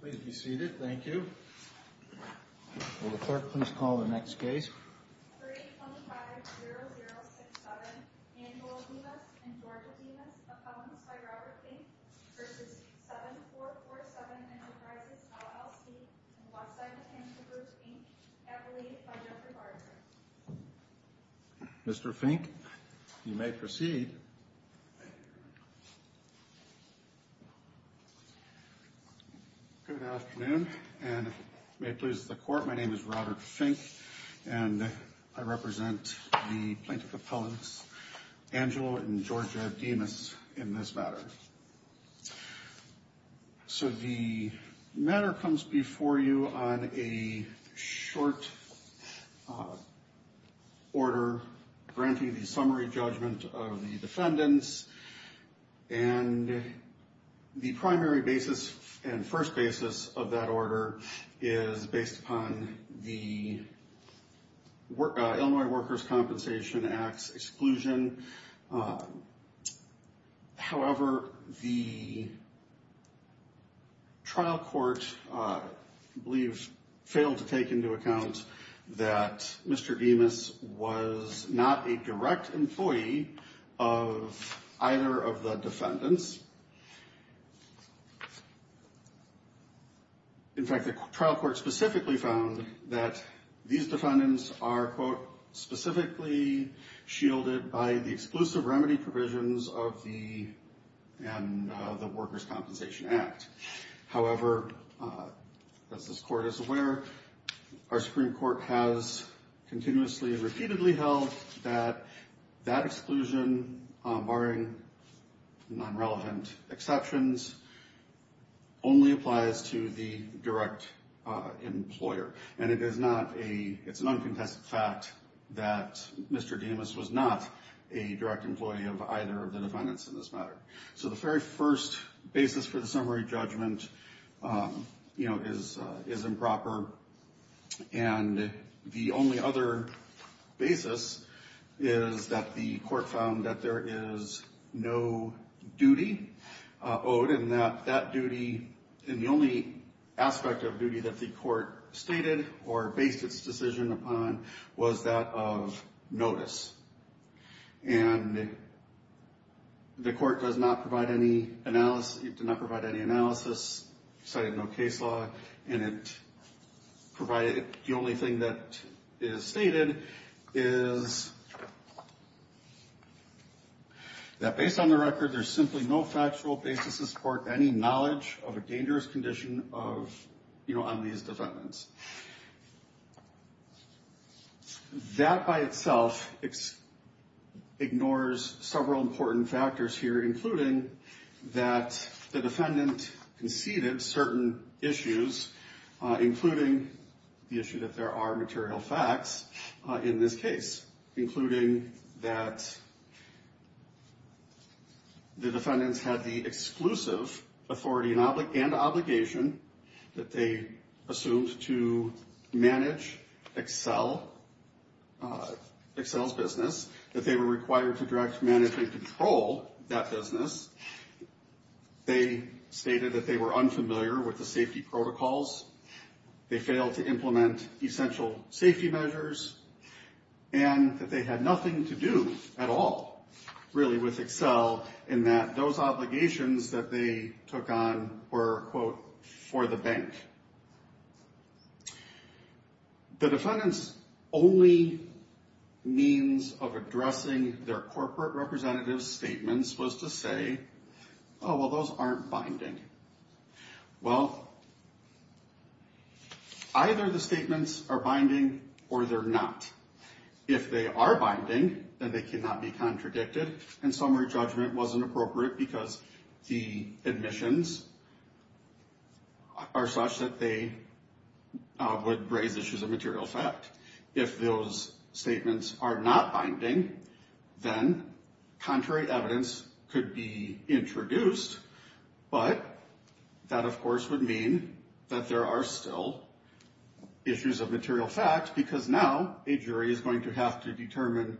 Please be seated. Thank you. Will the clerk please call the next case. 325-0067, Manuel Dimas v. 7447 Enterprises, LLC. Mr. Fink, you may proceed. Good afternoon, and may it please the court, my name is Robert Fink, and I represent the plaintiff appellants Angelo and Georgia Dimas in this matter. So the matter comes before you on a short order granting the summary judgment of the defendants, and the primary basis and first basis of that order is based upon the Illinois Workers' Compensation Act's exclusion. However, the trial court, I believe, failed to take into account that Mr. Dimas was not a direct employee of either of the defendants. In fact, the trial court specifically found that these defendants are, quote, specifically shielded by the exclusive remedy provisions of the Workers' Compensation Act. However, as this court is aware, our Supreme Court has continuously and repeatedly held that that exclusion, barring non-relevant exceptions, only applies to the direct employer. And it is not a, it's an uncontested fact that Mr. Dimas was not a direct employee of either of the defendants in this matter. So the very first basis for the summary judgment, you know, is improper. And the only other basis is that the court found that there is no duty owed, and that that duty, and the only aspect of duty that the court stated or based its decision upon was that of notice. And the court does not provide any analysis, did not provide any analysis, cited no case law, and it provided, the only thing that is stated is that based on the record, there's simply no factual basis to support any knowledge of a dangerous condition of, you know, on these defendants. That by itself ignores several important factors here, including that the defendant conceded certain issues, including the issue that there are material facts in this case. Including that the defendants had the exclusive authority and obligation that they assumed to manage Excel, Excel's business, that they were required to direct, manage, and control that business. They stated that they were unfamiliar with the safety protocols, they failed to implement essential safety measures, and that they had nothing to do at all, really, with Excel, in that those obligations that they took on were, quote, for the bank. The defendant's only means of addressing their corporate representative's statements was to say, oh, well, those aren't binding. Well, either the statements are binding or they're not. If they are binding, then they cannot be contradicted, and summary judgment wasn't appropriate because the admissions are such that they would raise issues of material fact. If those statements are not binding, then contrary evidence could be introduced, but that, of course, would mean that there are still issues of material fact because now a jury is going to have to determine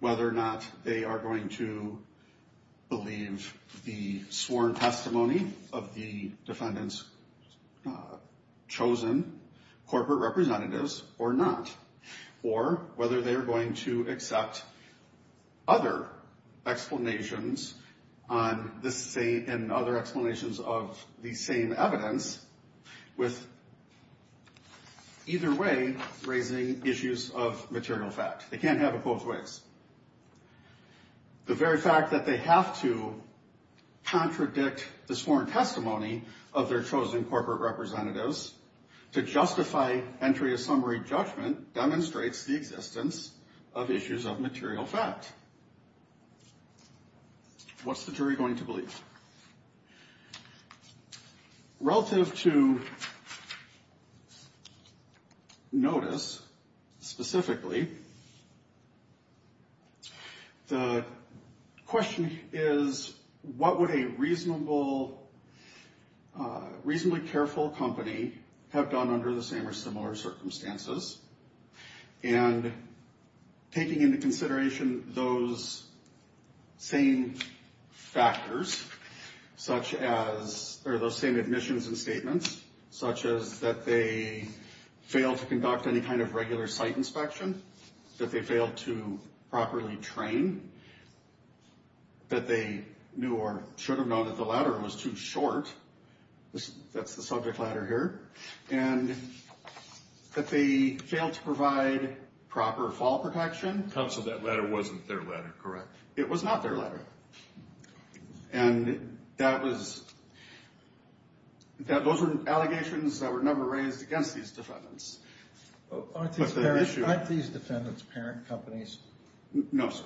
whether or not they are going to believe the sworn testimony of the defendant's chosen corporate representatives or not. Or whether they are going to accept other explanations and other explanations of the same evidence with either way raising issues of material fact. They can't have it both ways. The very fact that they have to contradict the sworn testimony of their chosen corporate representatives to justify entry of summary judgment demonstrates the existence of issues of material fact. What's the jury going to believe? Relative to notice, specifically, the question is, what would a reasonably careful company have done under the same or similar circumstances? And taking into consideration those same factors, such as, or those same admissions and statements, such as that they failed to conduct any kind of regular site inspection, that they failed to properly train, that they knew or should have known that the ladder was too short, that's the subject ladder here. And that they failed to provide proper fall protection. Counsel, that ladder wasn't their ladder, correct? It was not their ladder. And that was, those were allegations that were never raised against these defendants. Aren't these defendants parent companies? No, sir.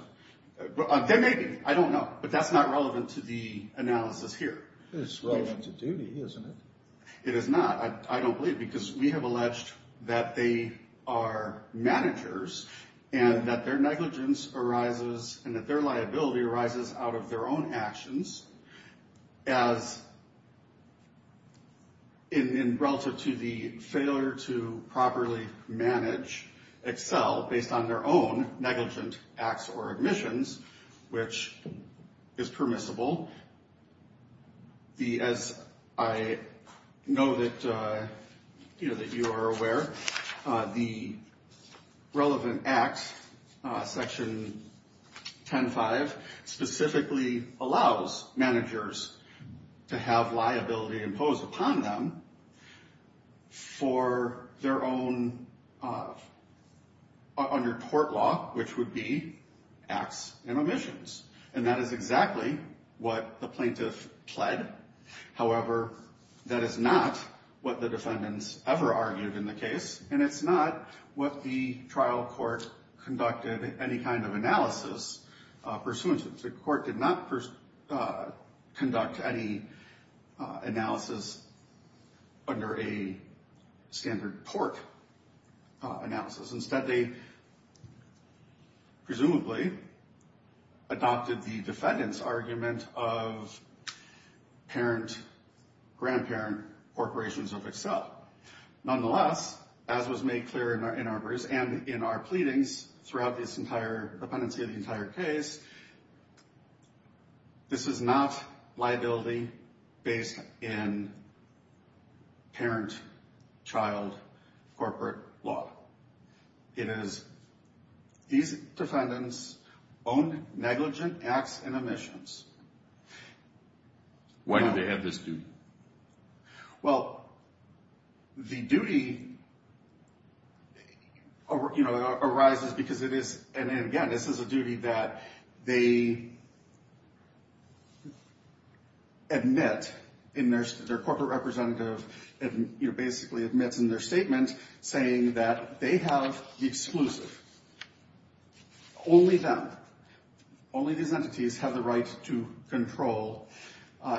They may be, I don't know, but that's not relevant to the analysis here. It's relevant to duty, isn't it? It is not, I don't believe, because we have alleged that they are managers, and that their negligence arises, and that their liability arises out of their own actions, as in relative to the failure to properly manage, excel, based on their own negligent acts or admissions, which is permissible. As I know that you are aware, the relevant acts, section 10-5, specifically allows managers to have liability imposed upon them for their own, under court law, which would be acts and omissions. And that is exactly what the plaintiff pled. However, that is not what the defendants ever argued in the case, and it's not what the trial court conducted any kind of analysis pursuant to. The court did not conduct any analysis under a standard tort analysis. Instead, they presumably adopted the defendant's argument of parent-grandparent corporations of excel. Nonetheless, as was made clear in our briefs and in our pleadings throughout this entire, the pendency of the entire case, this is not liability based in parent-child corporate law. It is these defendants' own negligent acts and omissions. Why do they have this duty? Well, the duty arises because it is, and again, this is a duty that they admit in their corporate representative, basically admits in their statement, saying that they have the exclusive. Only them. Only these entities have the right to control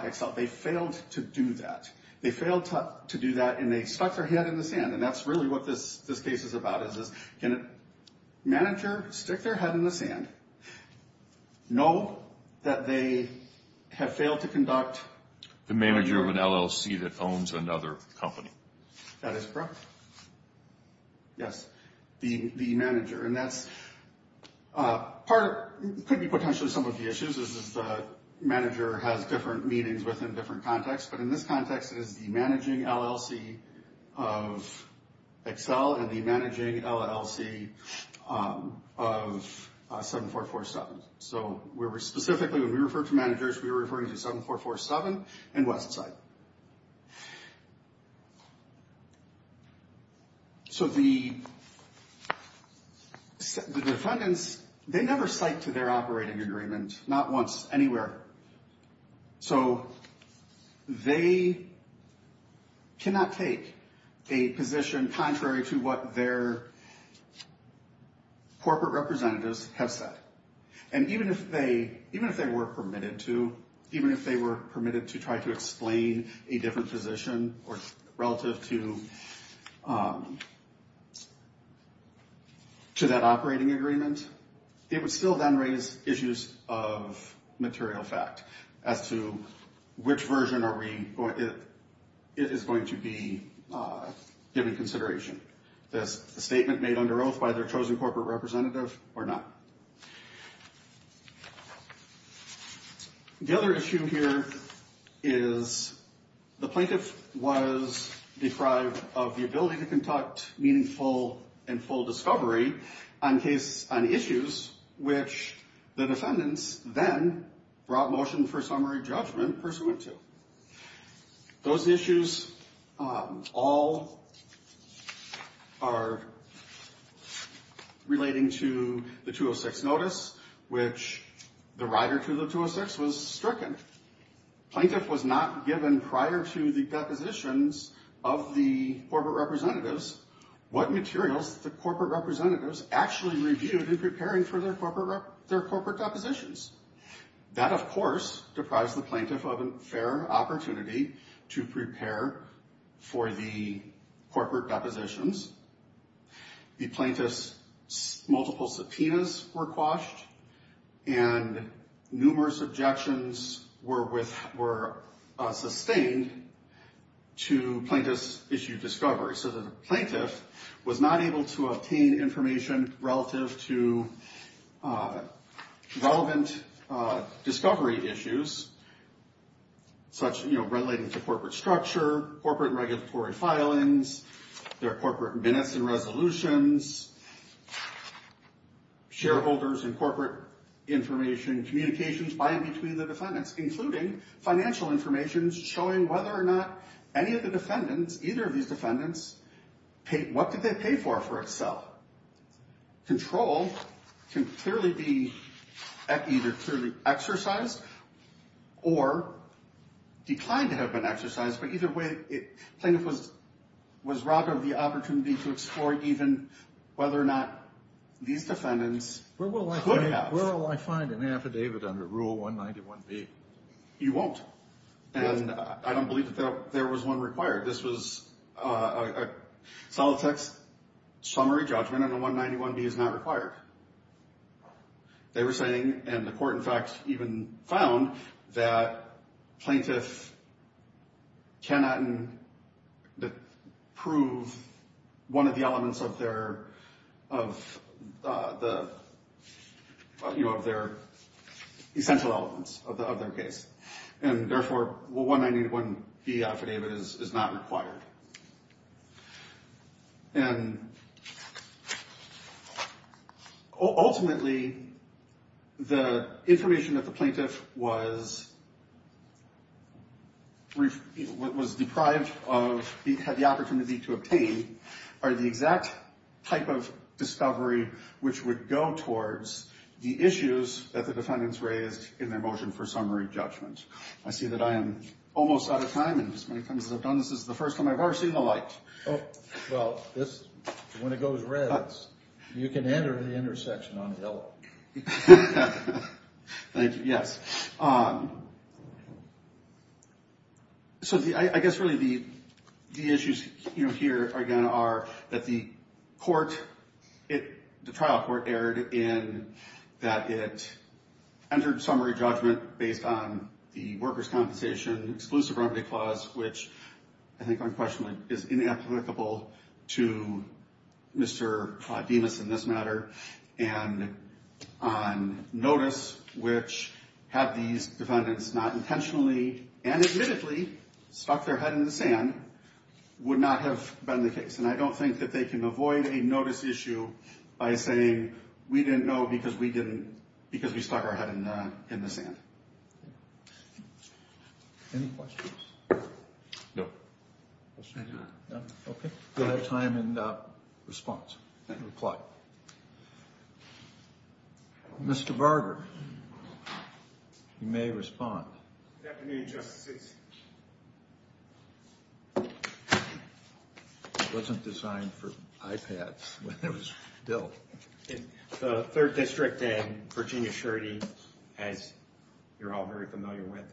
excel. They failed to do that. They failed to do that, and they stuck their head in the sand. And that's really what this case is about, is can a manager stick their head in the sand, know that they have failed to conduct… The manager of an LLC that owns another company. That is correct. Yes. The manager. And that's part, could be potentially some of the issues, is the manager has different meanings within different contexts. But in this context, it is the managing LLC of excel and the managing LLC of 7447. So we're specifically, when we refer to managers, we're referring to 7447 and Westside. So the defendants, they never cite to their operating agreement, not once, anywhere. So they cannot take a position contrary to what their corporate representatives have said. And even if they were permitted to, even if they were permitted to try to explain a different position relative to that operating agreement, it would still then raise issues of material fact as to which version is going to be given consideration. This statement made under oath by their chosen corporate representative or not. The other issue here is the plaintiff was deprived of the ability to conduct meaningful and full discovery on issues which the defendants then brought motion for summary judgment pursuant to. Those issues all are relating to the 206 notice, which the rider to the 206 was stricken. Plaintiff was not given prior to the depositions of the corporate representatives, what materials the corporate representatives actually reviewed in preparing for their corporate depositions. That, of course, deprived the plaintiff of a fair opportunity to prepare for the corporate depositions. The plaintiff's multiple subpoenas were quashed and numerous objections were sustained to plaintiff's issue discovery. So the plaintiff was not able to obtain information relative to relevant discovery issues such relating to corporate structure, corporate regulatory filings, their corporate minutes and resolutions, shareholders and corporate information, communications by and between the defendants, including financial information, showing whether or not any of the defendants, either of these defendants, what did they pay for for itself. Control can clearly be either clearly exercised or declined to have been exercised. But either way, plaintiff was robbed of the opportunity to explore even whether or not these defendants could have. Where will I find an affidavit under Rule 191B? You won't. And I don't believe that there was one required. This was a solid text summary judgment and a 191B is not required. They were saying, and the court in fact even found, that plaintiff cannot prove one of the elements of their essential elements of their case. And therefore, Rule 191B affidavit is not required. And ultimately, the information that the plaintiff was deprived of, had the opportunity to obtain, are the exact type of discovery which would go towards the issues that the defendants raised in their motion for summary judgment. I see that I am almost out of time. And as many times as I've done, this is the first time I've ever seen the light. Well, when it goes red, you can enter the intersection on yellow. Thank you. Yes. So I guess really the issues here again are that the trial court erred in that it entered summary judgment based on the workers' compensation exclusive remedy clause, which I think unquestionably is inapplicable to Mr. Demas in this matter. And on notice, which had these defendants not intentionally and admittedly stuck their head in the sand, would not have been the case. And I don't think that they can avoid a notice issue by saying, we didn't know because we stuck our head in the sand. Any questions? No. Okay. We'll have time in response and reply. Mr. Barger, you may respond. Good afternoon, Justices. It wasn't designed for iPads when it was built. The Third District and Virginia surety, as you're all very familiar with,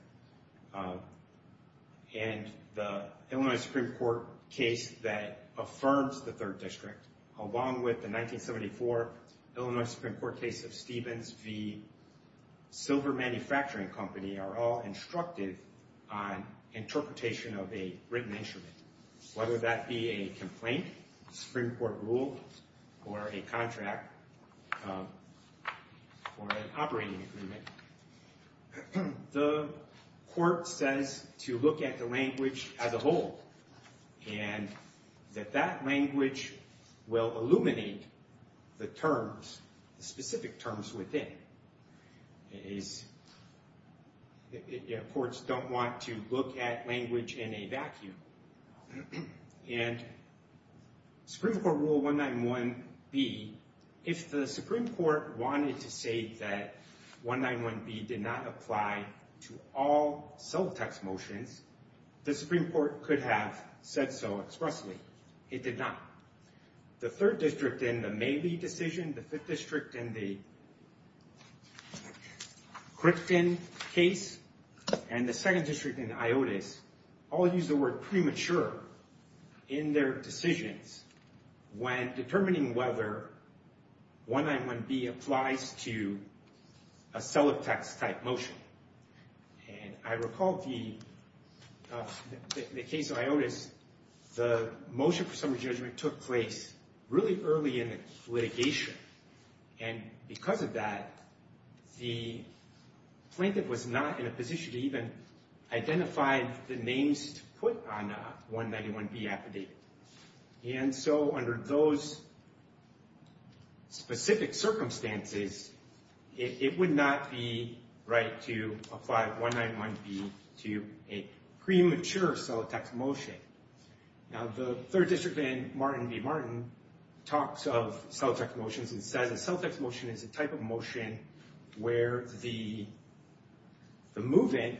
and the Illinois Supreme Court case that affirms the Third District, along with the 1974 Illinois Supreme Court case of Stevens v. Silver Manufacturing Company, are all instructed on interpretation of a written instrument. Whether that be a complaint, Supreme Court rule, or a contract, or an operating agreement, the court says to look at the language as a whole and that that language will illuminate the terms, the specific terms within. Courts don't want to look at language in a vacuum. And Supreme Court Rule 191B, if the Supreme Court wanted to say that 191B did not apply to all cell text motions, the Supreme Court could have said so expressly. It did not. The Third District in the Maley decision, the Fifth District in the Cripton case, and the Second District in the IOTUS, all use the word premature in their decisions when determining whether 191B applies to a cell of text type motion. And I recall the case of IOTUS, the motion for summary judgment took place really early in the litigation. And because of that, the plaintiff was not in a position to even identify the names to put on 191B affidavit. And so under those specific circumstances, it would not be right to apply 191B to a premature cell of text motion. Now the Third District in Martin v. Martin talks of cell of text motions and says a cell of text motion is a type of motion where the move-in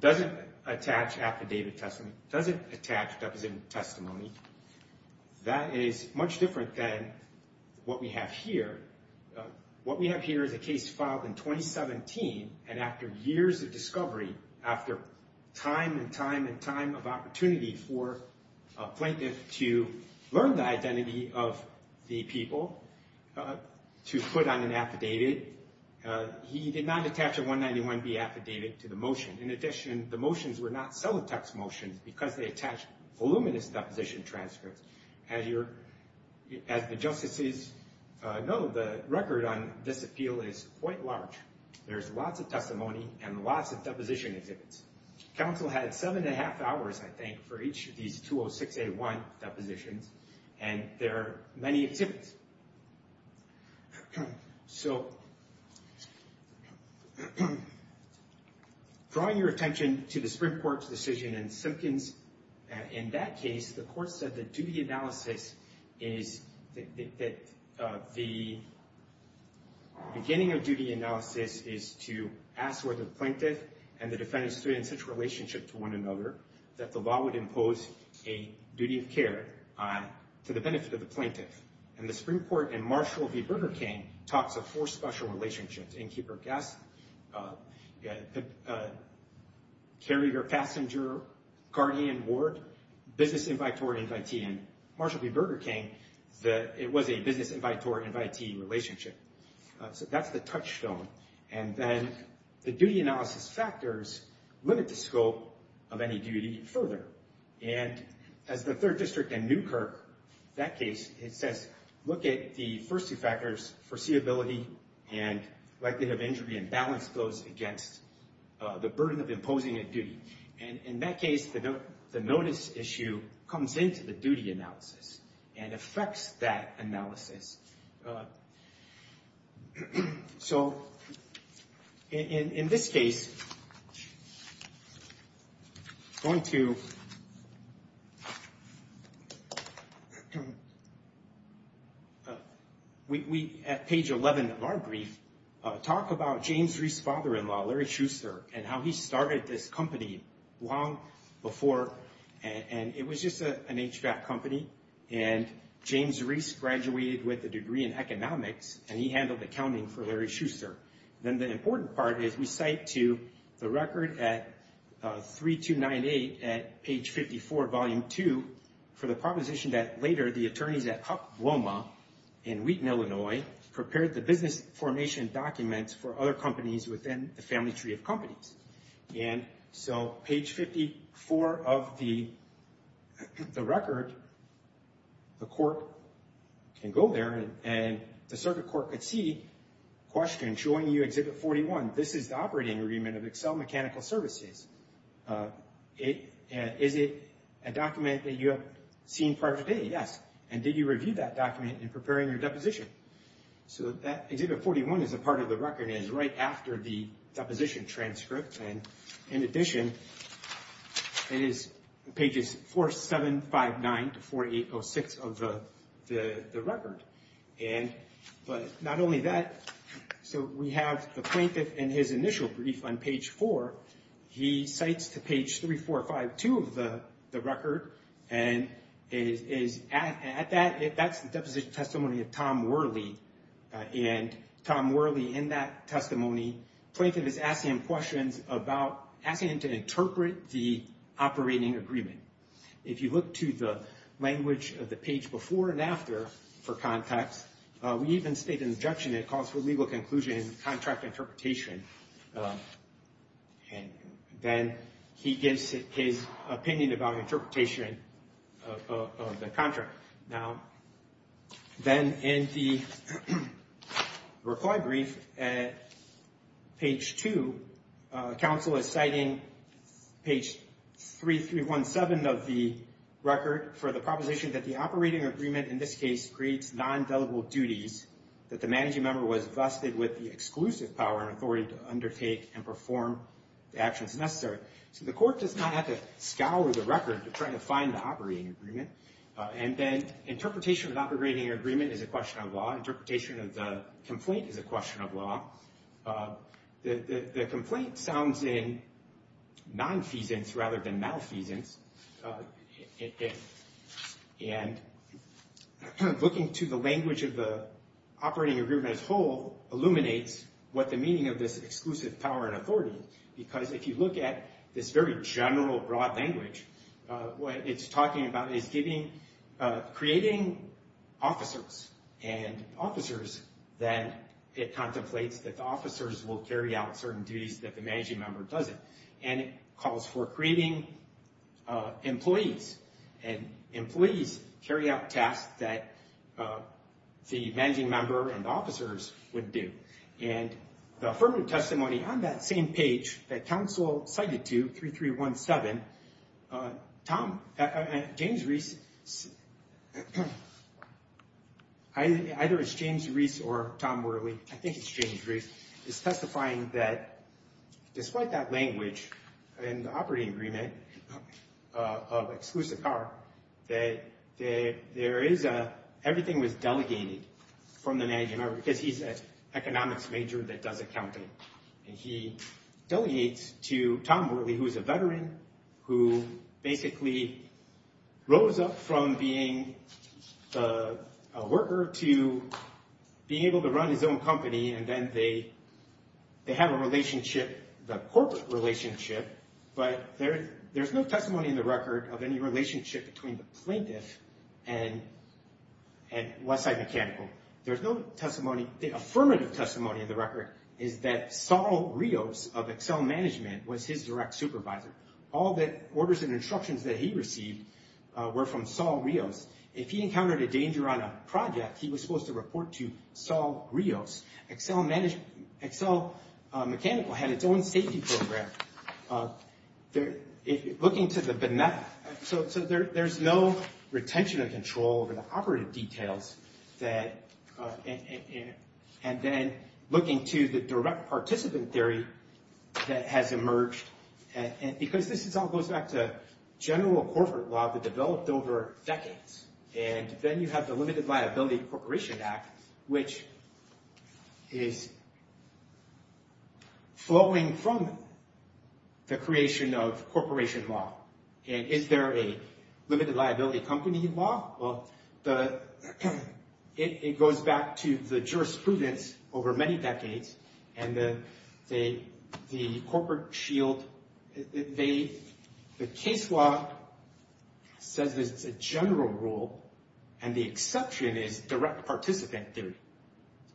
doesn't attach affidavit testimony, doesn't attach deposition testimony. That is much different than what we have here. What we have here is a case filed in 2017, and after years of discovery, after time and time and time of opportunity for a plaintiff to learn the identity of the people to put on an affidavit, he did not attach a 191B affidavit to the motion. In addition, the motions were not cell of text motions because they attached voluminous deposition transcripts. As the justices know, the record on this appeal is quite large. There's lots of testimony and lots of deposition exhibits. Council had seven and a half hours, I think, for each of these 206A1 depositions, and there are many exhibits. So drawing your attention to the Supreme Court's decision in Simpkins, in that case, the court said the duty analysis is, the beginning of duty analysis is to ask whether the plaintiff and the defendant stood in such a relationship to one another that the law would impose a duty of care to the benefit of the plaintiff. And the Supreme Court in Marshall v. Burger King talks of four special relationships, innkeeper, guest, carrier, passenger, guardian, ward, business invitory, invitee. And in Marshall v. Burger King, it was a business invitory-invitee relationship. So that's the touchstone. And then the duty analysis factors limit the scope of any duty further. And as the Third District in Newkirk, that case, it says, look at the first two factors, foreseeability and likelihood of injury, and balance those against the burden of imposing a duty. And in that case, the notice issue comes into the duty analysis and affects that analysis. So in this case, we at page 11 of our brief talk about James Reese's father-in-law, Larry Schuster, and how he started this company long before. And it was just an HVAC company. And James Reese graduated with a degree in economics, and he handled accounting for Larry Schuster. Then the important part is we cite to the record at 3298 at page 54, volume 2, for the proposition that later the attorneys at Huck Bloma in Wheaton, Illinois, prepared the business formation documents for other companies within the family tree of companies. And so page 54 of the record, the court can go there, and the circuit court could see, question, showing you Exhibit 41. This is the operating agreement of Excel Mechanical Services. Is it a document that you have seen prior to today? Yes. And did you review that document in preparing your deposition? So that Exhibit 41 is a part of the record, and it's right after the deposition transcript. And in addition, it is pages 4759 to 4806 of the record. But not only that, so we have the plaintiff in his initial brief on page 4. He cites to page 3452 of the record. And that's the deposition testimony of Tom Worley. And Tom Worley, in that testimony, plaintiff is asking him questions about asking him to interpret the operating agreement. If you look to the language of the page before and after for context, we even state an injunction that calls for legal conclusion and contract interpretation. And then he gives his opinion about interpretation of the contract. Now, then in the reply brief at page 2, counsel is citing page 3317 of the record for the proposition that the operating agreement, in this case, creates non-dealable duties that the managing member was vested with the exclusive power and authority to undertake and perform the actions necessary. So the court does not have to scour the record to try to find the operating agreement. And then interpretation of the operating agreement is a question of law. Interpretation of the complaint is a question of law. The complaint sounds in nonfeasance rather than malfeasance. And looking to the language of the operating agreement as whole illuminates what the meaning of this exclusive power and authority is. Because if you look at this very general broad language, what it's talking about is creating officers and officers that it contemplates that the officers will carry out certain duties that the managing member doesn't. And it calls for creating employees. And employees carry out tasks that the managing member and officers wouldn't do. And the affirmative testimony on that same page that counsel cited to 3317, Tom, James Reese, either it's James Reese or Tom Worley, I think it's James Reese, is testifying that despite that language in the operating agreement of exclusive power, that everything was delegated from the managing member because he's an economics major that does accounting. And he delegates to Tom Worley, who is a veteran, who basically rose up from being a worker to being able to run his own company. And then they have a relationship, the corporate relationship, but there's no testimony in the record of any relationship between the plaintiff and Westside Mechanical. There's no testimony. The affirmative testimony in the record is that Saul Rios of Excel Management was his direct supervisor. All the orders and instructions that he received were from Saul Rios. If he encountered a danger on a project, he was supposed to report to Saul Rios. Excel Mechanical had its own safety program. Looking to the benefit, so there's no retention of control over the operative details. And then looking to the direct participant theory that has emerged, and because this all goes back to general corporate law that developed over decades, and then you have the Limited Liability Corporation Act, which is flowing from the creation of corporation law. And is there a limited liability company law? Well, it goes back to the jurisprudence over many decades, and the case law says it's a general rule, and the exception is direct participant theory.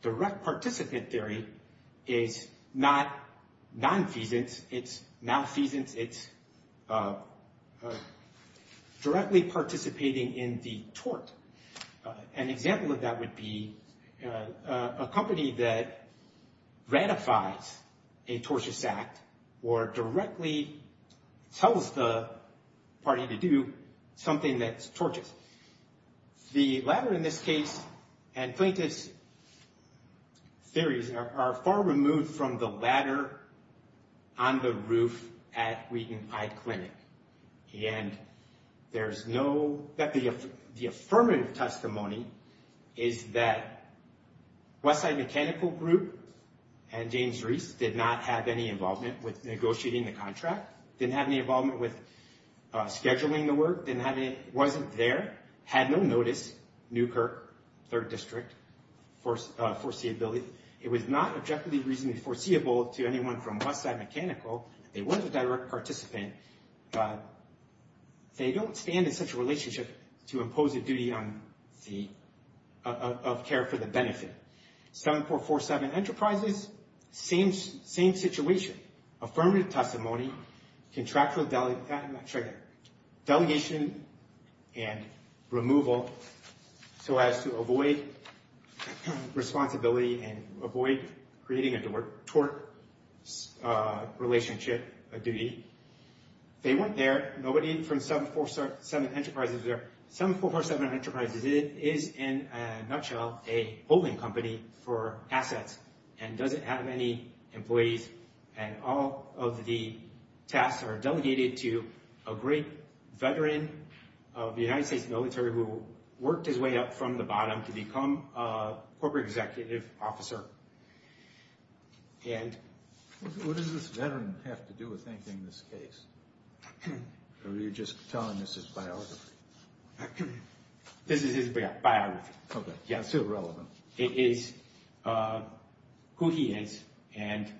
Direct participant theory is not nonfeasance, it's malfeasance. It's directly participating in the tort. An example of that would be a company that ratifies a tortious act or directly tells the party to do something that's tortious. The latter in this case and plaintiff's theories are far removed from the latter on the roof at Wheaton High Clinic. And there's no, the affirmative testimony is that Westside Mechanical Group and James Reese did not have any involvement with negotiating the contract, didn't have any involvement with scheduling the work, wasn't there, had no notice, Newkirk, 3rd District, foreseeability. It was not objectively reasonably foreseeable to anyone from Westside Mechanical. It was a direct participant. They don't stand in such a relationship to impose a duty of care for the benefit. 7447 Enterprises, same situation. Affirmative testimony, contractual delegation and removal so as to avoid responsibility and avoid creating a tort relationship, a duty. They weren't there, nobody from 7447 Enterprises there. 7447 Enterprises is, in a nutshell, a holding company for assets and doesn't have any employees and all of the tasks are delegated to a great veteran of the United States military who worked his way up from the bottom to become a corporate executive officer. What does this veteran have to do with anything in this case? Or are you just telling us his biography? This is his biography. Okay, still relevant. It is who he is and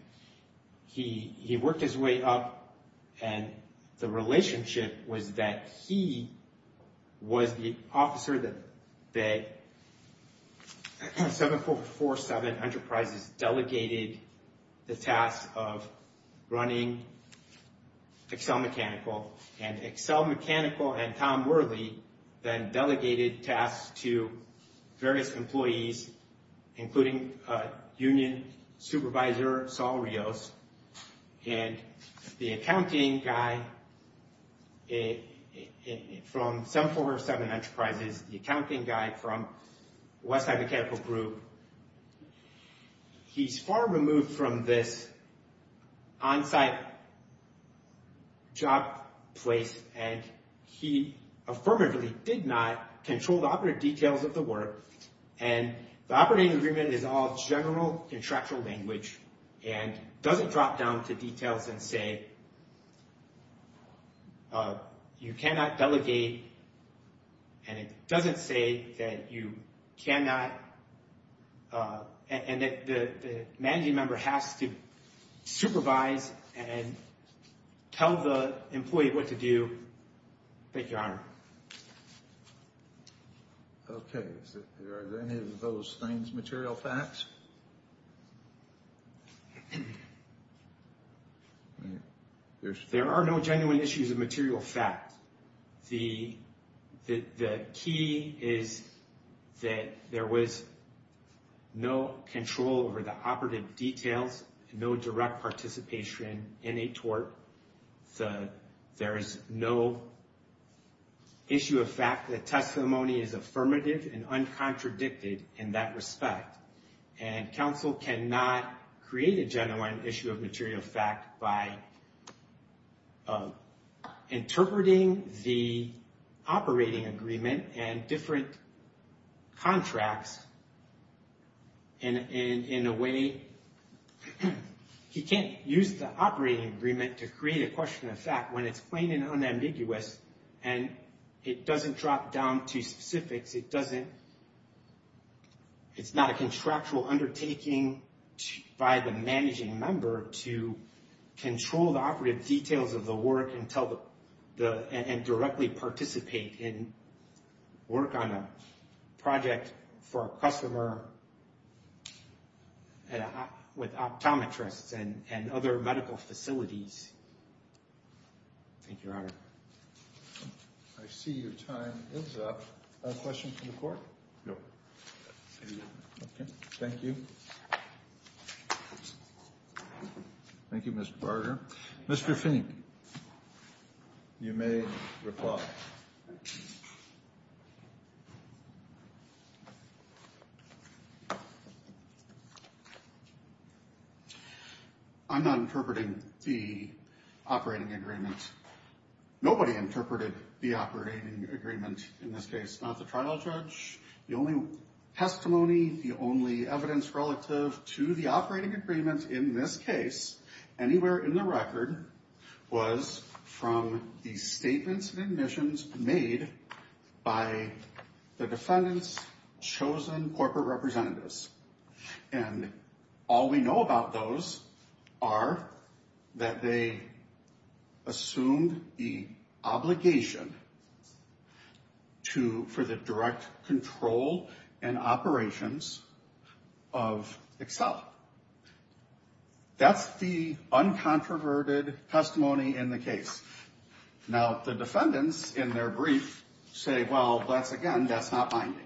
he worked his way up and the relationship was that he was the officer that 7447 Enterprises delegated the tasks of running Excel Mechanical and Excel Mechanical and Tom Worley then delegated tasks to various employees, including Union Supervisor Saul Rios and the accounting guy from 7447 Enterprises. The accounting guy from West High Mechanical Group. He's far removed from this on-site job place and he affirmatively did not control the operative details of the work and the operating agreement is all general contractual language and doesn't drop down to details and say, you cannot delegate and it doesn't say that you cannot and that the managing member has to supervise and tell the employee what to do. Thank you, Your Honor. Okay, is there any of those things material facts? There are no genuine issues of material fact. The key is that there was no control over the operative details, no direct participation in a tort. There is no issue of fact that testimony is affirmative and uncontradicted in that respect and counsel cannot create a genuine issue of material fact by interpreting the operating agreement and different contracts in a way, he can't use the operating agreement to create a question of fact when it's plain and unambiguous and it doesn't drop down to specifics. It's not a contractual undertaking by the managing member to control the operative details of the work and directly participate in work on a project for a customer with optometrists and other medical facilities. Thank you, Your Honor. I see your time is up. A question from the court? No. Okay, thank you. Thank you, Mr. Barger. Mr. Fink. You may reply. I'm not interpreting the operating agreement. Nobody interpreted the operating agreement in this case, not the trial judge. The only testimony, the only evidence relative to the operating agreement in this case, anywhere in the record, was from the statements and admissions made by the defendant's chosen corporate representatives. And all we know about those are that they assumed the obligation for the direct control and operations of Excel. That's the uncontroverted testimony in the case. Now, the defendants in their brief say, well, once again, that's not binding.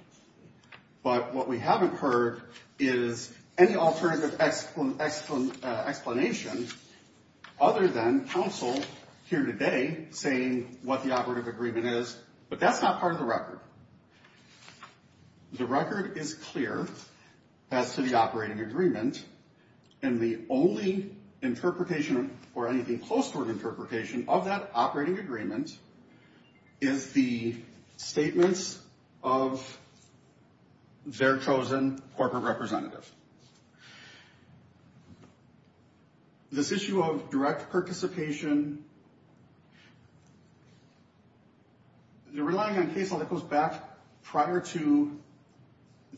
But what we haven't heard is any alternative explanation other than counsel here today saying what the operative agreement is. But that's not part of the record. The record is clear as to the operating agreement. And the only interpretation or anything close to an interpretation of that operating agreement is the statements of their chosen corporate representative. This issue of direct participation, relying on case law that goes back prior to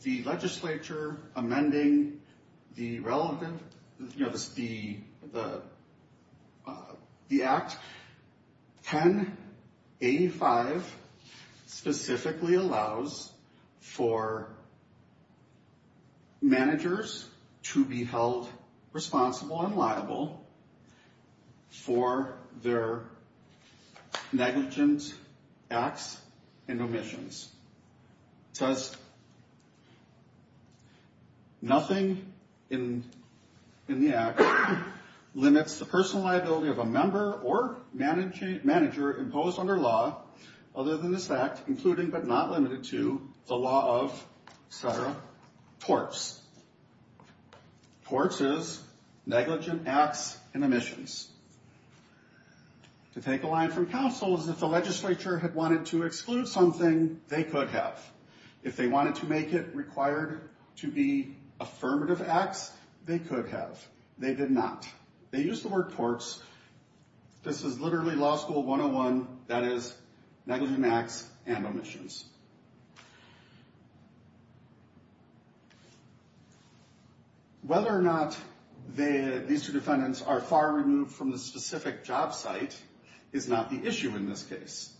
the legislature amending the relevant, you know, the act, 1085 specifically allows for managers to be held responsible and liable for their negligent acts and omissions. It says nothing in the act limits the personal liability of a member or manager imposed under law other than this act, including but not limited to the law of torts. Torts is negligent acts and omissions. To take a line from counsel is if the legislature had wanted to exclude something, they could have. If they wanted to make it required to be affirmative acts, they could have. They did not. They used the word torts. This is literally law school 101. That is negligent acts and omissions. Whether or not these two defendants are far removed from the specific job site is not the issue in this case.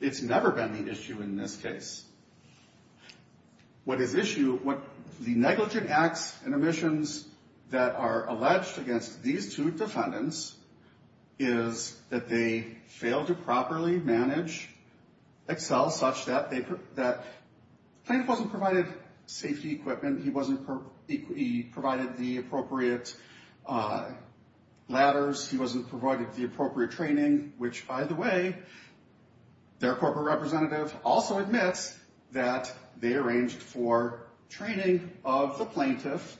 It's never been the issue in this case. What is issue, what the negligent acts and omissions that are alleged against these two defendants is that they fail to properly manage Excel such that they put that, Plaintiff wasn't provided safety equipment. He wasn't provided the appropriate ladders. He wasn't provided the appropriate training, which, by the way, their corporate representative also admits that they arranged for training of the plaintiff,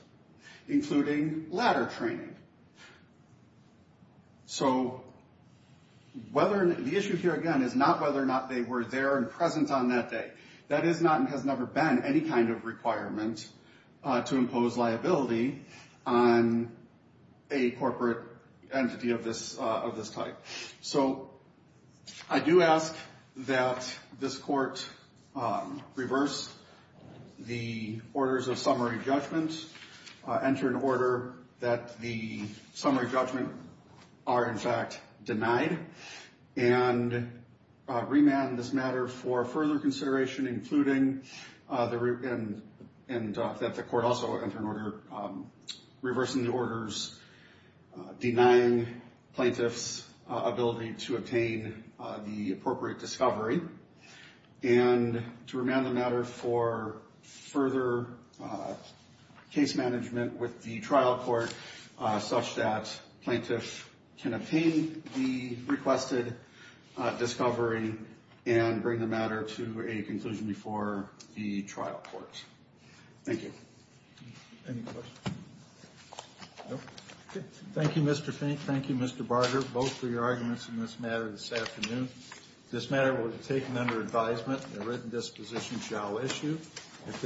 including ladder training. So the issue here, again, is not whether or not they were there and present on that day. That is not and has never been any kind of requirement to impose liability on a corporate entity of this type. So I do ask that this court reverse the orders of summary judgment, enter an order that the summary judgment are, in fact, denied and remand this matter for further consideration, including and that the court also enter an order reversing the orders denying plaintiff's ability to obtain the appropriate discovery and to remand the matter for further case management with the trial court such that plaintiff can obtain the requested discovery and bring the matter to a conclusion before the trial court. Thank you. Any questions? Thank you, Mr. Fink. Thank you, Mr. Barger, both for your arguments in this matter this afternoon. This matter was taken under advisement. The written disposition shall issue at this time.